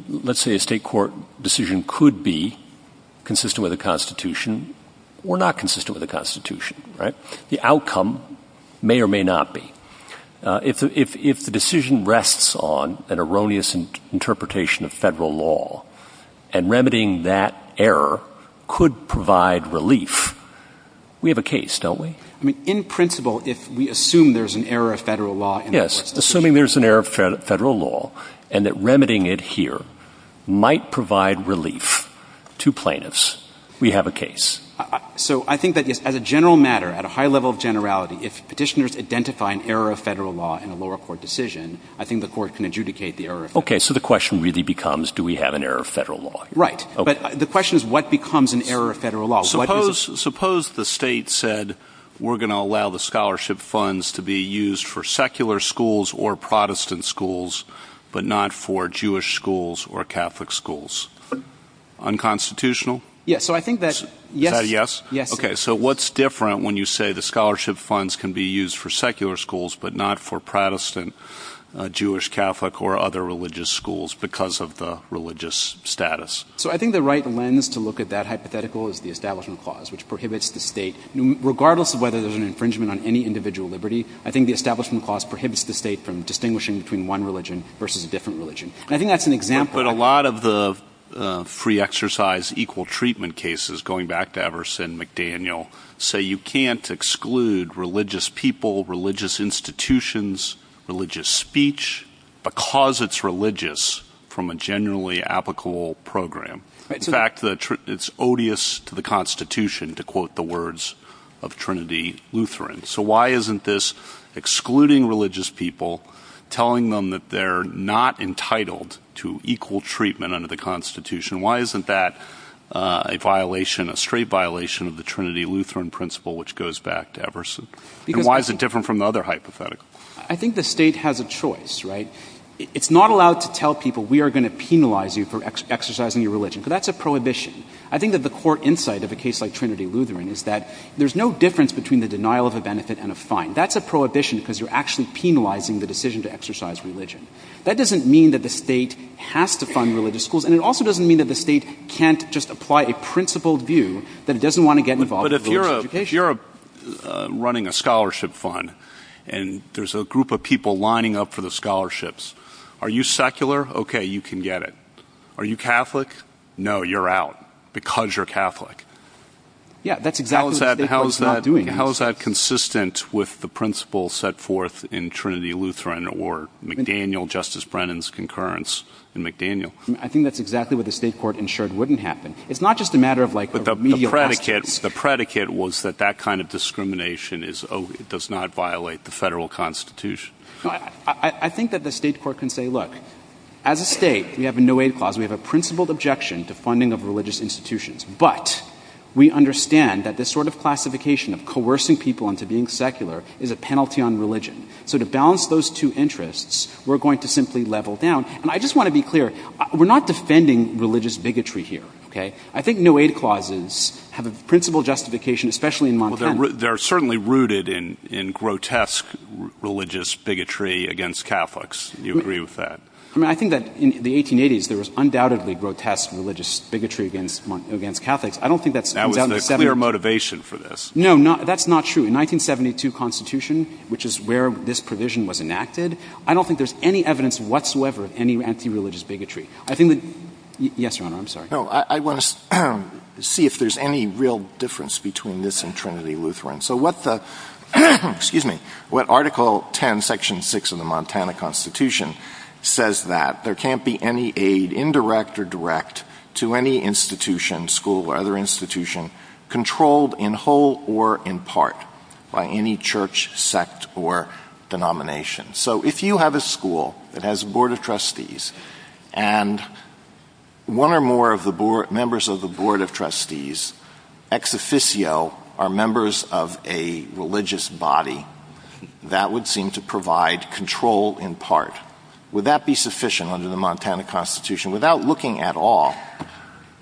let's say a State court decision could be consistent with the constitution or not consistent with the constitution, right? The outcome may or may not be if, if, if the decision rests on an erroneous interpretation of Federal law and remedying that error could provide relief. We have a case, don't we? I mean, in principle, if we assume there's an error of Federal law. Yes. Assuming there's an error of Federal law and that remedying it here might provide relief to plaintiffs, we have a case. So I think that as a general matter, at a high level of generality, if Petitioners identify an error of Federal law in a lower court decision, I think the court can adjudicate the error of Federal law. Okay. So the question really becomes, do we have an error of Federal law? Right. But the question is what becomes an error of Federal law? Suppose, suppose the State said, we're going to allow the scholarship funds to be used for secular schools or Protestant schools, but not for Jewish schools or Catholic schools, unconstitutional. Yeah. So I think that, yes, yes. Okay. So what's different when you say the scholarship funds can be used for secular schools because of the religious status? So I think the right lens to look at that hypothetical is the Establishment Clause, which prohibits the State, regardless of whether there's an infringement on any individual liberty, I think the Establishment Clause prohibits the State from distinguishing between one religion versus a different religion. And I think that's an example. But a lot of the free exercise equal treatment cases, going back to Everson McDaniel, say you can't exclude religious people, religious institutions, religious speech, because it's religious from a generally applicable program. In fact, it's odious to the constitution to quote the words of Trinity Lutheran. So why isn't this excluding religious people, telling them that they're not entitled to equal treatment under the constitution? Why isn't that a violation, a straight violation of the Trinity Lutheran principle, which goes back to Everson? And why is it different from the other hypothetical? I think the State has a choice, right? It's not allowed to tell people, we are going to penalize you for exercising your religion, because that's a prohibition. I think that the core insight of a case like Trinity Lutheran is that there's no difference between the denial of a benefit and a fine. That's a prohibition because you're actually penalizing the decision to exercise religion. That doesn't mean that the State has to fund religious schools, and it also doesn't mean that the State can't just apply a principled view that it doesn't want to get involved in religious education. If you're running a scholarship fund, and there's a group of people lining up for the scholarships, are you secular? Okay. You can get it. Are you Catholic? No, you're out because you're Catholic. Yeah, that's exactly what the state court is not doing. How is that consistent with the principle set forth in Trinity Lutheran or McDaniel, Justice Brennan's concurrence in McDaniel? I think that's exactly what the state court ensured wouldn't happen. It's not just a matter of like... The predicate was that that kind of discrimination is, oh, it does not violate the federal constitution. I think that the state court can say, look, as a state, we have a no aid clause. We have a principled objection to funding of religious institutions, but we understand that this sort of classification of coercing people into being secular is a penalty on religion. So to balance those two interests, we're going to simply level down. And I just want to be clear, we're not defending religious bigotry here, okay? I think no aid clauses have a principle justification, especially in Montaigne. They're certainly rooted in grotesque religious bigotry against Catholics. Do you agree with that? I mean, I think that in the 1880s, there was undoubtedly grotesque religious bigotry against Catholics. I don't think that's... That was the clear motivation for this. No, that's not true. In 1972 constitution, which is where this provision was enacted, I don't think there's any evidence whatsoever of any anti-religious bigotry. I think that... Yes, Your Honor. I'm sorry. No, I want to see if there's any real difference between this and Trinity Lutheran. So what the, excuse me, what article 10, section six of the Montana constitution says that there can't be any aid indirect or direct to any institution, school or other institution controlled in whole or in part by any church, sect or denomination. So if you have a school that has a board of trustees and one or more of the board, members of the board of trustees, ex officio are members of a religious body that would seem to provide control in part. Would that be sufficient under the Montana constitution without looking at all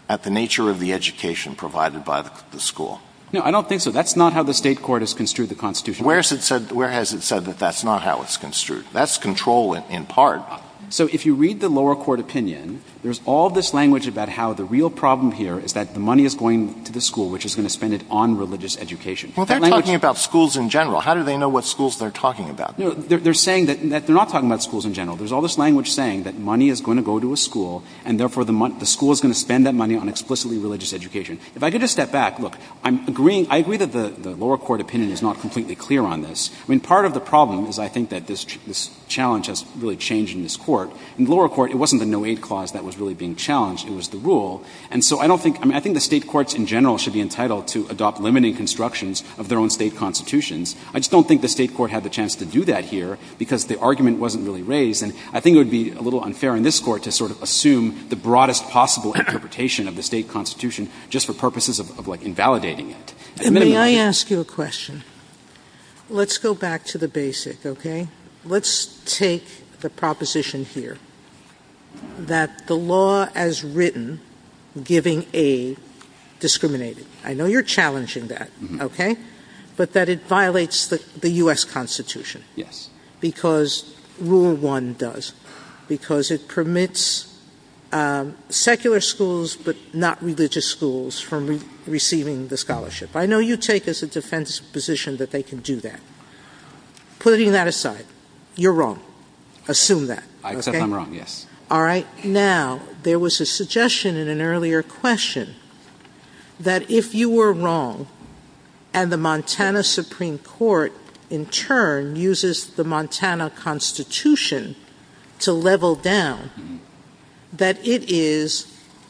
at the nature of the education provided by the school? No, I don't think so. That's not how the state court has construed the constitution. Where's it said, where has it said that that's not how it's construed? That's control in part. So if you read the lower court opinion, there's all this language about how the real problem here is that the money is going to the school, which is going to spend it on religious education. Well, they're talking about schools in general. How do they know what schools they're talking about? No, they're saying that they're not talking about schools in general. There's all this language saying that money is going to go to a school and therefore the month the school is going to spend that money on explicitly religious education. If I could just step back, look, I'm agreeing. I agree that the lower court opinion is not completely clear on this. I mean, part of the problem is I think that this challenge has really changed in this court. In the lower court, it wasn't the no-aid clause that was really being challenged. It was the rule. And so I don't think, I mean, I think the state courts in general should be entitled to adopt limiting constructions of their own state constitutions. I just don't think the state court had the chance to do that here because the argument wasn't really raised. And I think it would be a little unfair in this court to sort of assume the broadest possible interpretation of the state constitution just for purposes of like invalidating it. And may I ask you a question? Let's go back to the basic. Okay. Let's take the proposition here that the law as written giving aid discriminated. I know you're challenging that. Okay. But that it violates the U S constitution. Yes. Because rule one does, because it permits, um, secular schools, but not religious schools from receiving the scholarship. I know you take as a defense position that they can do that. Putting that aside, you're wrong. Assume that I accept I'm wrong. Yes. All right. Now there was a suggestion in an earlier question that if you were wrong and the Montana Supreme court in turn uses the Montana constitution to level down, that it is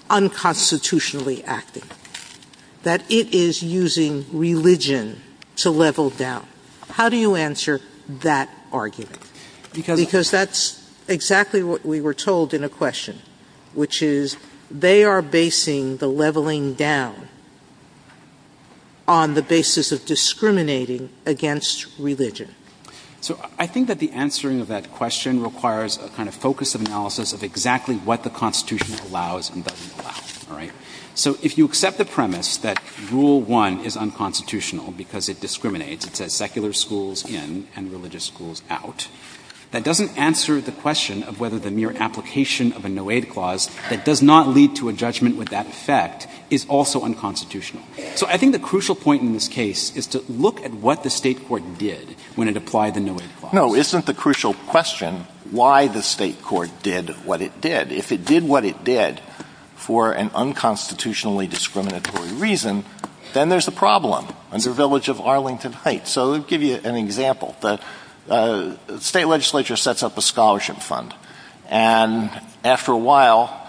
unconstitutionally acting, that it is using religion to level down. How do you answer that argument? Because that's exactly what we were told in a question, which is they are basing the leveling down on the basis of discriminating against religion. So I think that the answering of that question requires a kind of focus of analysis of exactly what the constitution allows and doesn't allow. All right. So if you accept the premise that rule one is unconstitutional because it discriminates, it says secular schools in and religious schools out, that doesn't answer the question of whether the mere application of a no aid clause that does not lead to a judgment with that effect is also unconstitutional. So I think the crucial point in this case is to look at what the state court did when it applied the no aid clause. No, isn't the crucial question why the state court did what it did. If it did what it did for an unconstitutionally discriminatory reason, then there's a problem under the village of Arlington Heights. So to give you an example, the state legislature sets up a scholarship fund. And after a while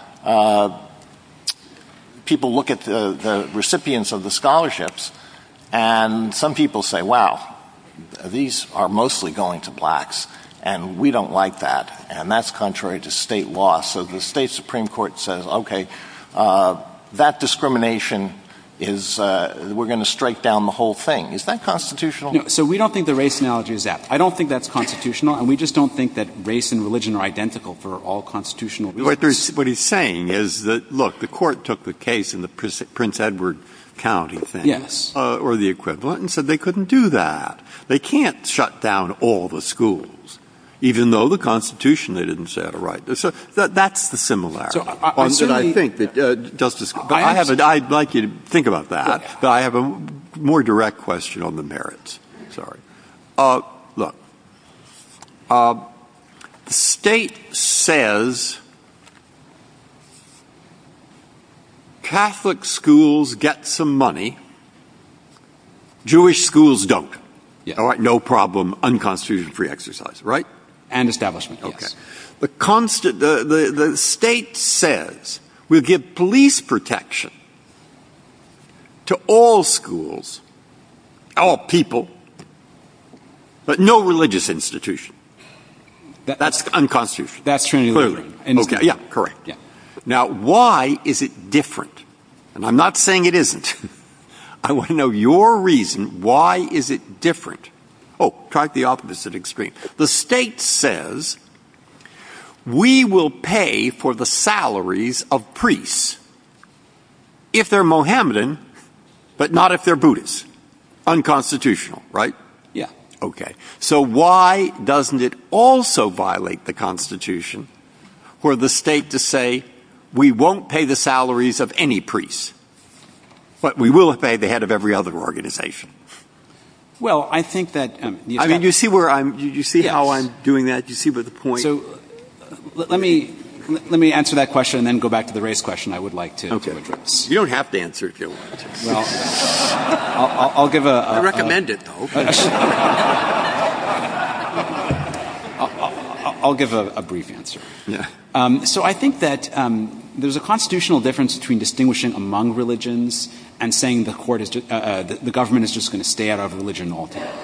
people look at the recipients of the scholarships and some people say, wow, these are mostly going to blacks and we don't like that. And that's contrary to state law. So the state Supreme Court says, okay, that discrimination is, we're going to strike down the whole thing. Is that constitutional? So we don't think the race analogy is that. I don't think that's constitutional. And we just don't think that race and religion are identical for all constitutional reasons. What he's saying is that, look, the court took the case in the Prince Edward County thing or the equivalent and said they couldn't do that. They can't shut down all the schools, even though the constitution they didn't say had a right. So that's the similarity. I'd like you to think about that, but I have a more direct question on the merits. Sorry. Uh, look, uh, the state says Catholic schools get some money. Jewish schools don't all right. No problem. Unconstitutional free exercise. Right. And establishment. Okay. The constant, the, the, the state says we'll give police protection to all schools. Oh, people, but no religious institution that's unconstitutional. That's true. And yeah, correct. Now, why is it different? And I'm not saying it isn't, I want to know your reason. Why is it different? Oh, try it. The opposite extreme. The state says we will pay for the salaries of priests if they're Mohammedan, but not if they're Buddhists unconstitutional, right? Yeah. Okay. So why doesn't it also violate the constitution where the state to say, we won't pay the salaries of any priests, but we will pay the head of every other organization. Well, I think that, I mean, you see where I'm, you see how I'm doing that. You see what the point, let me, let me answer that question and then go back to the race question I would like to address. You don't have to answer. I'll give a, I'll give a brief answer. Yeah. Um, so I think that, um, there's a constitutional difference between distinguishing among religions and saying the court is, uh, the government is just going to stay out of religion.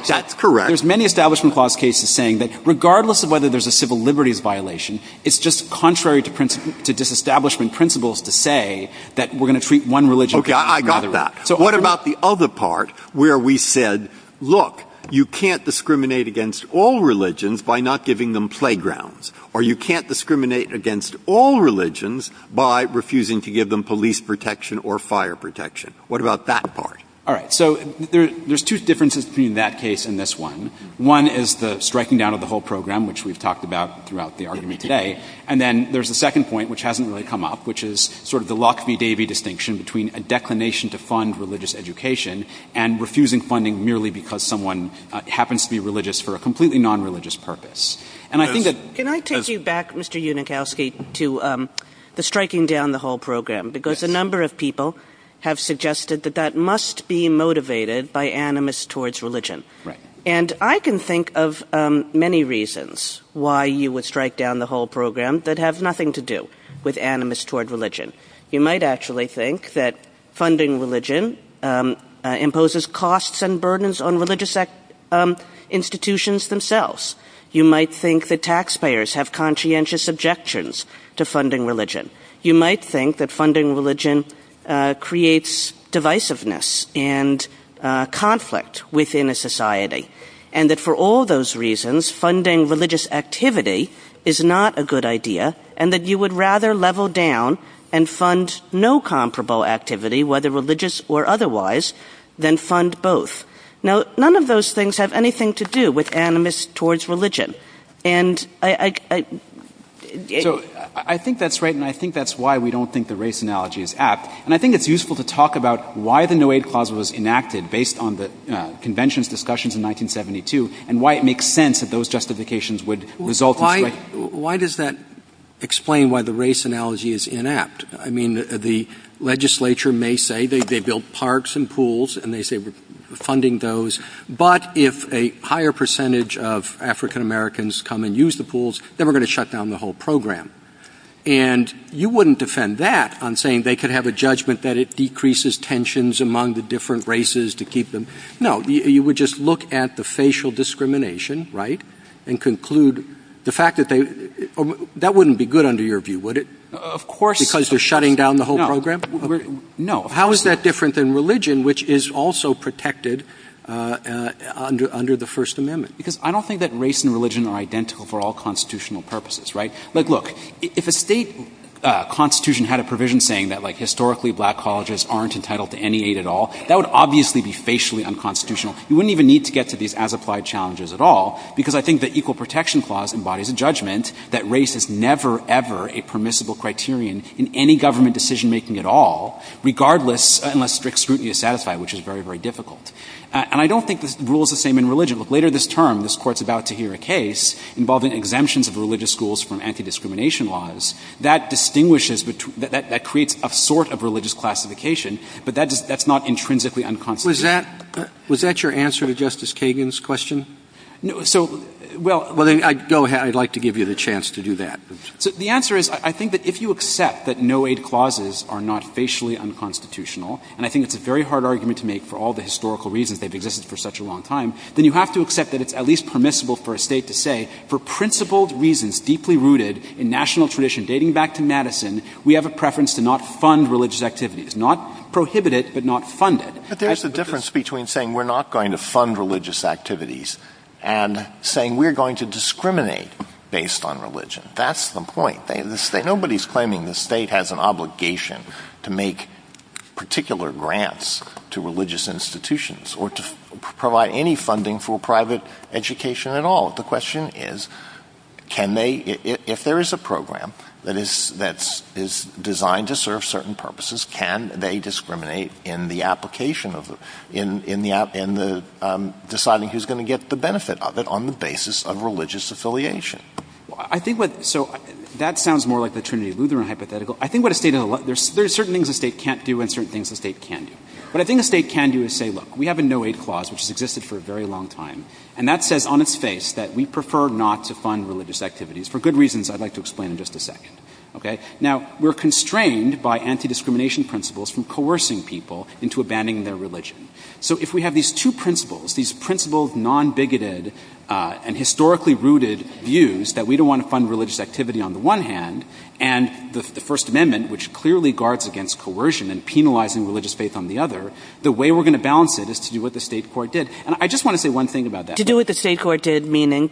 That's correct. There's many establishment clause cases saying that regardless of whether there's a civil liberties violation, it's just contrary to principle to disestablishment principles to say that we're going to treat one religion. Okay. I got that. So what about the other part where we said, look, you can't discriminate against all religions by not giving them playgrounds or you can't discriminate against all religions by refusing to give them police protection or fire protection. What about that part? All right. So there's two differences between that case and this one. One is the striking down of the whole program, which we've talked about throughout the argument today. And then there's a second point, which hasn't really come up, which is sort of the Locke v. Davey distinction between a declination to fund religious education and refusing funding merely because someone happens to be religious for a completely non-religious purpose. And I think that can I take you back Mr. Unikowski to, um, the striking down the whole program, because a number of people have suggested that that must be motivated by animus towards religion. Right. And I can think of, um, many reasons why you would strike down the whole program that have nothing to do with animus toward religion. You might actually think that funding religion, um, uh, imposes costs and burdens on religious, um, institutions themselves. You might think that taxpayers have conscientious objections to funding religion. You might think that funding religion, uh, creates divisiveness and, uh, conflict within a society and that for all those reasons, funding religious activity is not a good idea and that you would rather level down and fund no comparable activity, whether religious or otherwise, then fund both. Now, none of those things have anything to do with animus towards religion. And I, I, I think that's right. And I think that's why we don't think the race analogy is apt. And I think it's useful to talk about why the no aid clause was enacted based on the conventions discussions in 1972 and why it makes sense that those Why does that explain why the race analogy is inept? I mean, the legislature may say they, they built parks and pools and they say we're funding those, but if a higher percentage of African-Americans come and use the pools, then we're going to shut down the whole program. And you wouldn't defend that on saying they could have a judgment that it decreases tensions among the different races to keep them. No, you would just look at the facial discrimination, right? And conclude the fact that they, that wouldn't be good under your view. Would it, of course, because they're shutting down the whole program? No. How is that different than religion, which is also protected under, under the first amendment? Because I don't think that race and religion are identical for all constitutional purposes, right? Like, look, if a state constitution had a provision saying that like historically black colleges aren't entitled to any aid at all, that would obviously be facially unconstitutional. You wouldn't even need to get to these as applied challenges at all. Because I think that equal protection clause embodies a judgment that race is never, ever a permissible criterion in any government decision-making at all, regardless, unless strict scrutiny is satisfied, which is very, very difficult. And I don't think this rule is the same in religion. Look, later this term, this court's about to hear a case involving exemptions of religious schools from anti-discrimination laws that distinguishes between, that creates a sort of religious classification, but that does, that's not intrinsically unconstitutional. Was that, was that your answer to Justice Kagan's question? No. So, well, I'd like to give you the chance to do that. So the answer is, I think that if you accept that no aid clauses are not facially unconstitutional, and I think it's a very hard argument to make for all the historical reasons they've existed for such a long time, then you have to accept that it's at least permissible for a state to say, for principled reasons, deeply rooted in national tradition, dating back to Madison, we have a preference to not fund religious activities, not prohibit it, but not fund it. But there's a difference between saying we're not going to fund religious activities and saying we're going to discriminate based on religion. That's the point. They, the state, nobody's claiming the state has an obligation to make particular grants to religious institutions or to provide any funding for private education at all. The question is, can they, if there is a program that is, that's, is designed to benefit, on the basis of religious affiliation. I think what, so that sounds more like the Trinity Lutheran hypothetical. I think what a state, there's certain things a state can't do and certain things a state can do. What I think a state can do is say, look, we have a no aid clause which has existed for a very long time, and that says on its face that we prefer not to fund religious activities, for good reasons I'd like to explain in just a second, okay? Now, we're constrained by anti-discrimination principles from coercing people into abandoning their religion. So if we have these two principles, these principled, non-bigoted, and historically rooted views that we don't want to fund religious activity on the one hand, and the First Amendment, which clearly guards against coercion and penalizing religious faith on the other, the way we're going to balance it is to do what the State court did. And I just want to say one thing about that. Kagan. To do what the State court did, meaning?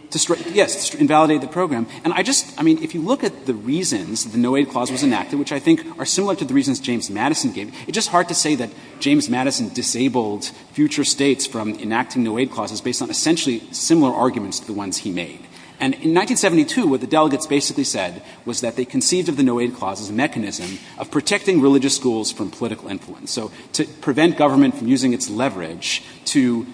Yes, to invalidate the program. And I just, I mean, if you look at the reasons the no aid clause was enacted, which I think are similar to the reasons James Madison gave, it's just hard to say that James Madison disabled future states from enacting no aid clauses based on essentially similar arguments to the ones he made. And in 1972, what the delegates basically said was that they conceived of the no aid clause as a mechanism of protecting religious schools from political influence. So to prevent government from using its leverage to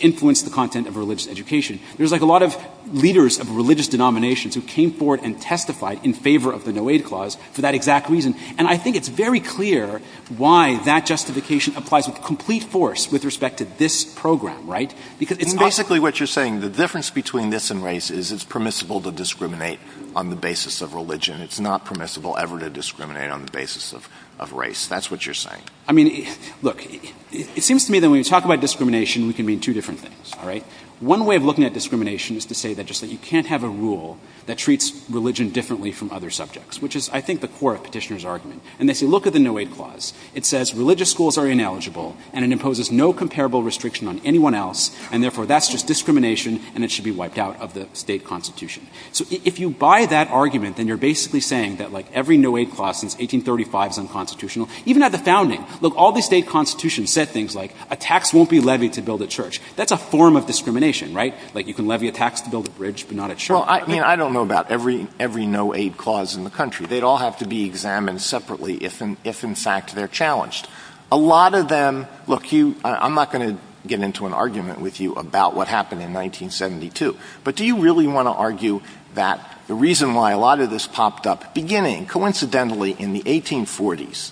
influence the content of religious education. There's like a lot of leaders of religious denominations who came forward and testified in favor of the no aid clause for that exact reason. And I think it's very clear why that justification applies with complete force with respect to this program, right? Because it's not. And basically what you're saying, the difference between this and race is it's permissible to discriminate on the basis of religion. It's not permissible ever to discriminate on the basis of race. That's what you're saying. I mean, look, it seems to me that when you talk about discrimination, we can mean two different things, all right? One way of looking at discrimination is to say that just that you can't have a rule that treats religion differently from other subjects, which is I think the core of the argument. And they say, look at the no aid clause. It says religious schools are ineligible, and it imposes no comparable restriction on anyone else, and therefore that's just discrimination and it should be wiped out of the State constitution. So if you buy that argument, then you're basically saying that like every no aid clause since 1835 is unconstitutional. Even at the founding, look, all the State constitutions said things like a tax won't be levied to build a church. That's a form of discrimination, right? Like you can levy a tax to build a bridge, but not a church. I mean, I don't know about every no aid clause in the country. They'd all have to be examined separately if in fact they're challenged. A lot of them, look, I'm not going to get into an argument with you about what happened in 1972, but do you really want to argue that the reason why a lot of this popped up beginning coincidentally in the 1840s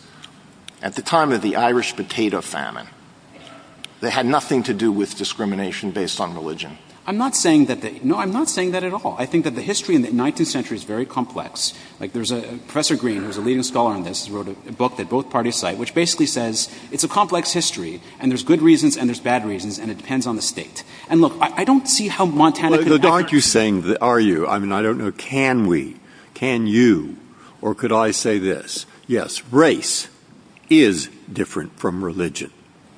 at the time of the Irish potato famine, they had nothing to do with discrimination based on religion? I'm not saying that they, no, I'm not saying that at all. I think that the history in the 19th century is very complex. Like there's a, Professor Green, who's a leading scholar on this, wrote a book that both parties cite, which basically says it's a complex history and there's good reasons and there's bad reasons, and it depends on the State. And look, I don't see how Montana could ever- But aren't you saying that, are you? I mean, I don't know. Can we, can you, or could I say this? Yes, race is different from religion.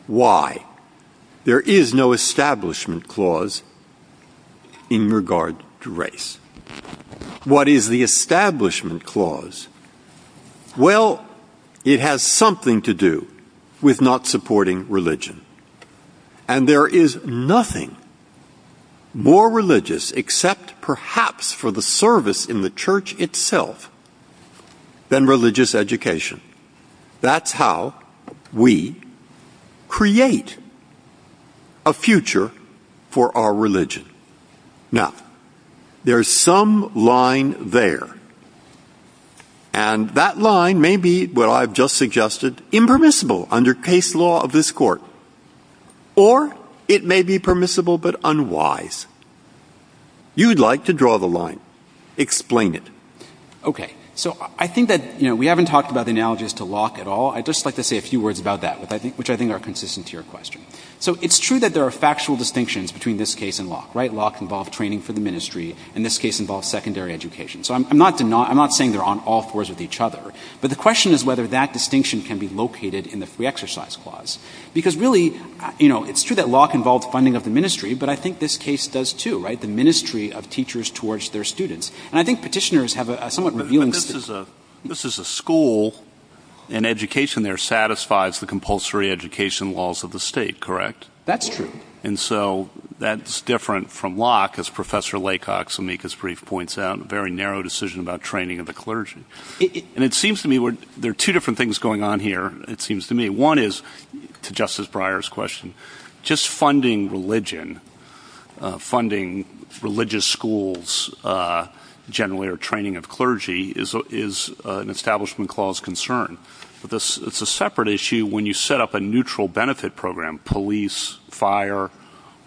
Why? There is no establishment clause in regard to race. What is the establishment clause? Well, it has something to do with not supporting religion. And there is nothing more religious, except perhaps for the service in the church itself, than religious education. That's how we create a future for our religion. Now, there's some line there, and that line may be, what I've just suggested, impermissible under case law of this court, or it may be permissible, but unwise. You'd like to draw the line. Explain it. Okay. So I think that, you know, we haven't talked about the analogies to Locke at all. I'd just like to say a few words about that, which I think are consistent to your question. So it's true that there are factual distinctions between this case and Locke, right? Locke involved training for the ministry, and this case involves secondary education. So I'm not denying, I'm not saying they're on all fours with each other, but the question is whether that distinction can be located in the free exercise clause. Because really, you know, it's true that Locke involved funding of the ministry, but I think this case does too, right? The ministry of teachers towards their students. And I think petitioners have a somewhat revealing... But this is a, this is a school, and education there satisfies the compulsory education laws of the state, correct? That's true. And so that's different from Locke, as Professor Laycock's amicus brief points out, very narrow decision about training of the clergy. And it seems to me where there are two different things going on here, it seems to me. One is to Justice Breyer's question, just funding religion, funding religious schools, generally, or training of clergy is an establishment clause concern. But this, it's a separate issue when you set up a neutral benefit program, police, fire,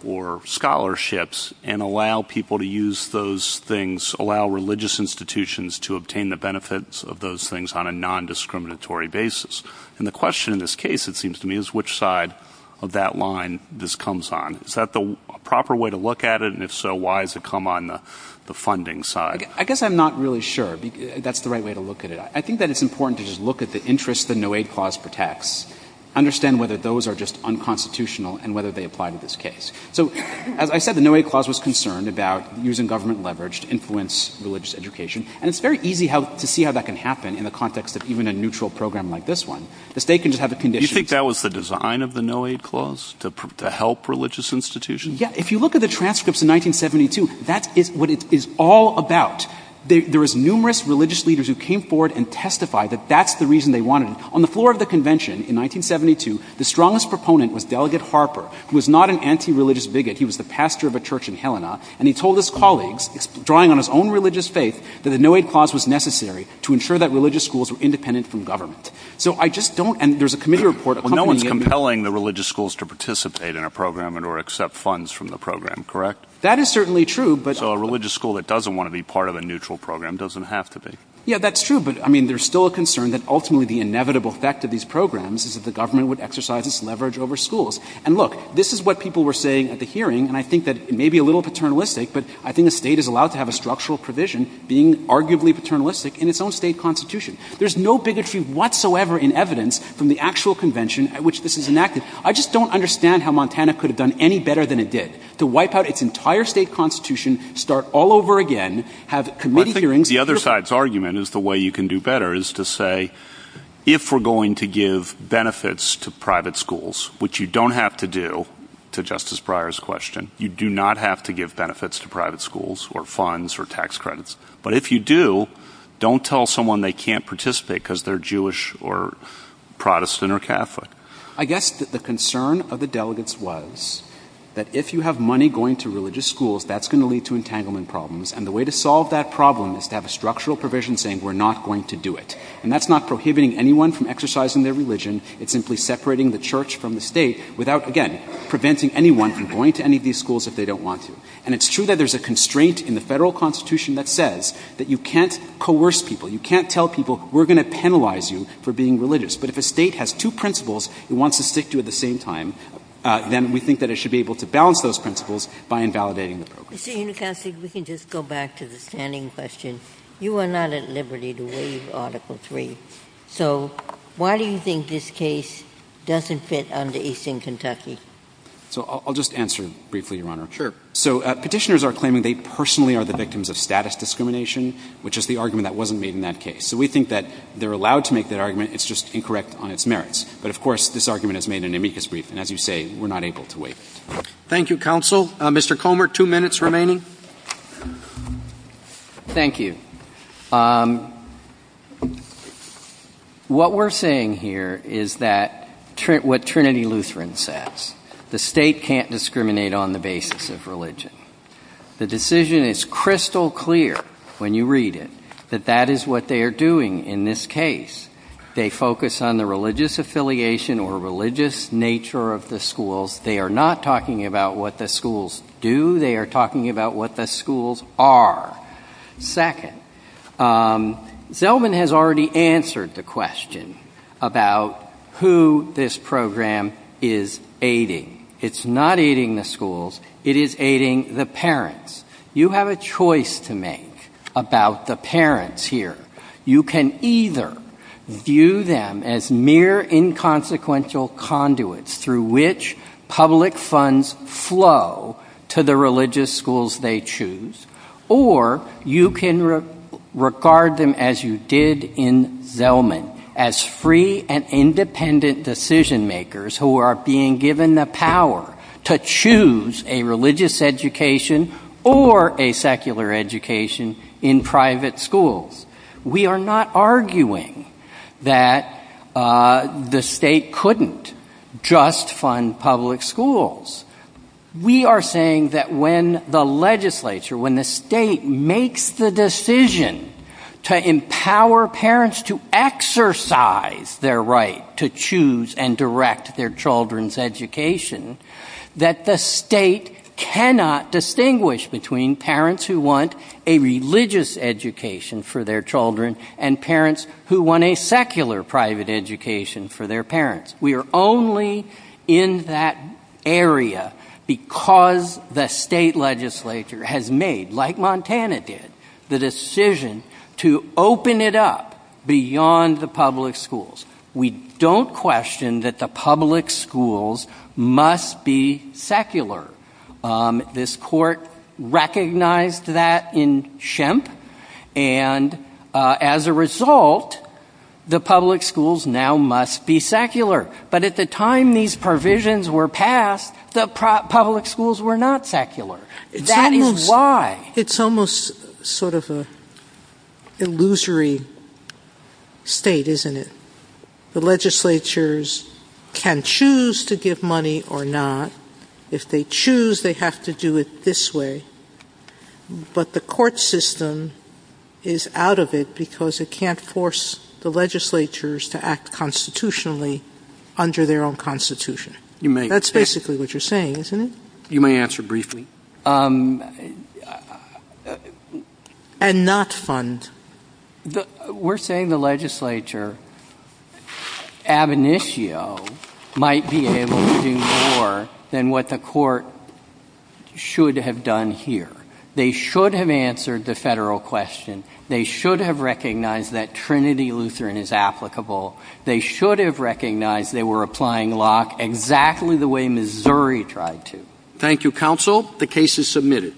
or scholarships, and allow people to use those things, allow religious institutions to obtain the benefits of those things on a non-discriminatory basis. And the question in this case, it seems to me, is which side of that line this comes on. Is that the proper way to look at it? And if so, why has it come on the funding side? I guess I'm not really sure that's the right way to look at it. I think that it's important to just look at the interests the no-aid clause protects, understand whether those are just unconstitutional, and whether they apply to this case. So as I said, the no-aid clause was concerned about using government leverage to influence religious education. And it's very easy to see how that can happen in the context of even a neutral program like this one. The state can just have a condition. You think that was the design of the no-aid clause, to help religious institutions? Yeah. If you look at the transcripts in 1972, that is what it is all about. There is numerous religious leaders who came forward and testified that that's the reason they wanted it. On the floor of the convention in 1972, the strongest proponent was Delegate Harper, who was not an anti-religious bigot. He was the pastor of a church in Helena. And he told his colleagues, drawing on his own religious faith, that the no-aid clause was necessary to ensure that religious schools were independent from government. So I just don't, and there's a committee report accompanying it. Well, no one's compelling the religious schools to participate in a program and or accept funds from the program, correct? That is certainly true, but. So a religious school that doesn't want to be part of a neutral program doesn't have to be. Yeah, that's true. But I mean, there's still a concern that ultimately the inevitable effect of these programs is that the government would exercise its leverage over schools. And look, this is what people were saying at the hearing. And I think that it may be a little paternalistic, but I think the state is allowed to have a structural provision being arguably paternalistic in its own state constitution. There's no bigotry whatsoever in evidence from the actual convention at which this is enacted. I just don't understand how Montana could have done any better than it did to wipe out its entire state constitution, start all over again, have committee hearings. The other side's argument is the way you can do better is to say, if we're going to give benefits to private schools, which you don't have to do to Justice Breyer's question, you do not have to give benefits to private schools or funds or tax credits. But if you do, don't tell someone they can't participate because they're Jewish or Protestant or Catholic. I guess the concern of the delegates was that if you have money going to religious schools, that's going to lead to entanglement problems. And the way to solve that problem is to have a structural provision saying we're not going to do it. And that's not prohibiting anyone from exercising their religion. It's simply separating the church from the state without, again, preventing anyone from going to any of these schools if they don't want to. And it's true that there's a constraint in the federal constitution that says that you can't coerce people. You can't tell people we're going to penalize you for being religious. But if a state has two principles it wants to stick to at the same time, then we think that it should be able to balance those principles by invalidating the program. Ms. Ginsburg, we can just go back to the standing question. You are not at liberty to waive Article 3. So why do you think this case doesn't fit under Eastern Kentucky? So I'll just answer briefly, Your Honor. Sure. So Petitioners are claiming they personally are the victims of status discrimination, which is the argument that wasn't made in that case. So we think that they're allowed to make that argument. It's just incorrect on its merits. But of course, this argument is made in amicus brief. And as you say, we're not able to waive it. Thank you, counsel. Mr. Comer, two minutes remaining. Thank you. What we're saying here is that what Trinity Lutheran says, the state can't discriminate on the basis of religion. The decision is crystal clear when you read it that that is what they are doing in this case. They focus on the religious affiliation or religious nature of the schools. They are not talking about what the schools do. They are talking about what the schools are. Second, Zellman has already answered the question about who this program is aiding. It's not aiding the schools. It is aiding the parents. You have a choice to make about the parents here. You can either view them as mere inconsequential conduits through which public funds flow to the religious schools they choose, or you can regard them as you did in Zellman, as free and independent decision makers who are being given the power to choose a religious education or a secular education in private schools. We are not arguing that the state couldn't just fund public schools. We are saying that when the legislature, when the state makes the decision to empower parents to exercise their right to choose and direct their children's education, that the state cannot distinguish between parents who want a religious education for their children and parents who want a secular private education for their parents. We are only in that area because the state legislature has made, like Montana did, the decision to open it up beyond the public schools. We don't question that the public schools must be secular. This court recognized that in Shemp, and as a result, the public schools now must be secular. But at the time these provisions were passed, the public schools were not secular. That is why. It's almost sort of an illusory state, isn't it? The legislatures can choose to give money or not. If they choose, they have to do it this way. But the court system is out of it because it can't force the legislatures to act constitutionally under their own constitution. You may. That's basically what you're saying, isn't it? You may answer briefly. And not fund. The we're saying the legislature ab initio might be able to do more than what the court should have done here. They should have answered the federal question. They should have recognized that Trinity Lutheran is applicable. They should have recognized they were applying Locke exactly the way Missouri tried to. Thank you, counsel. The case is submitted.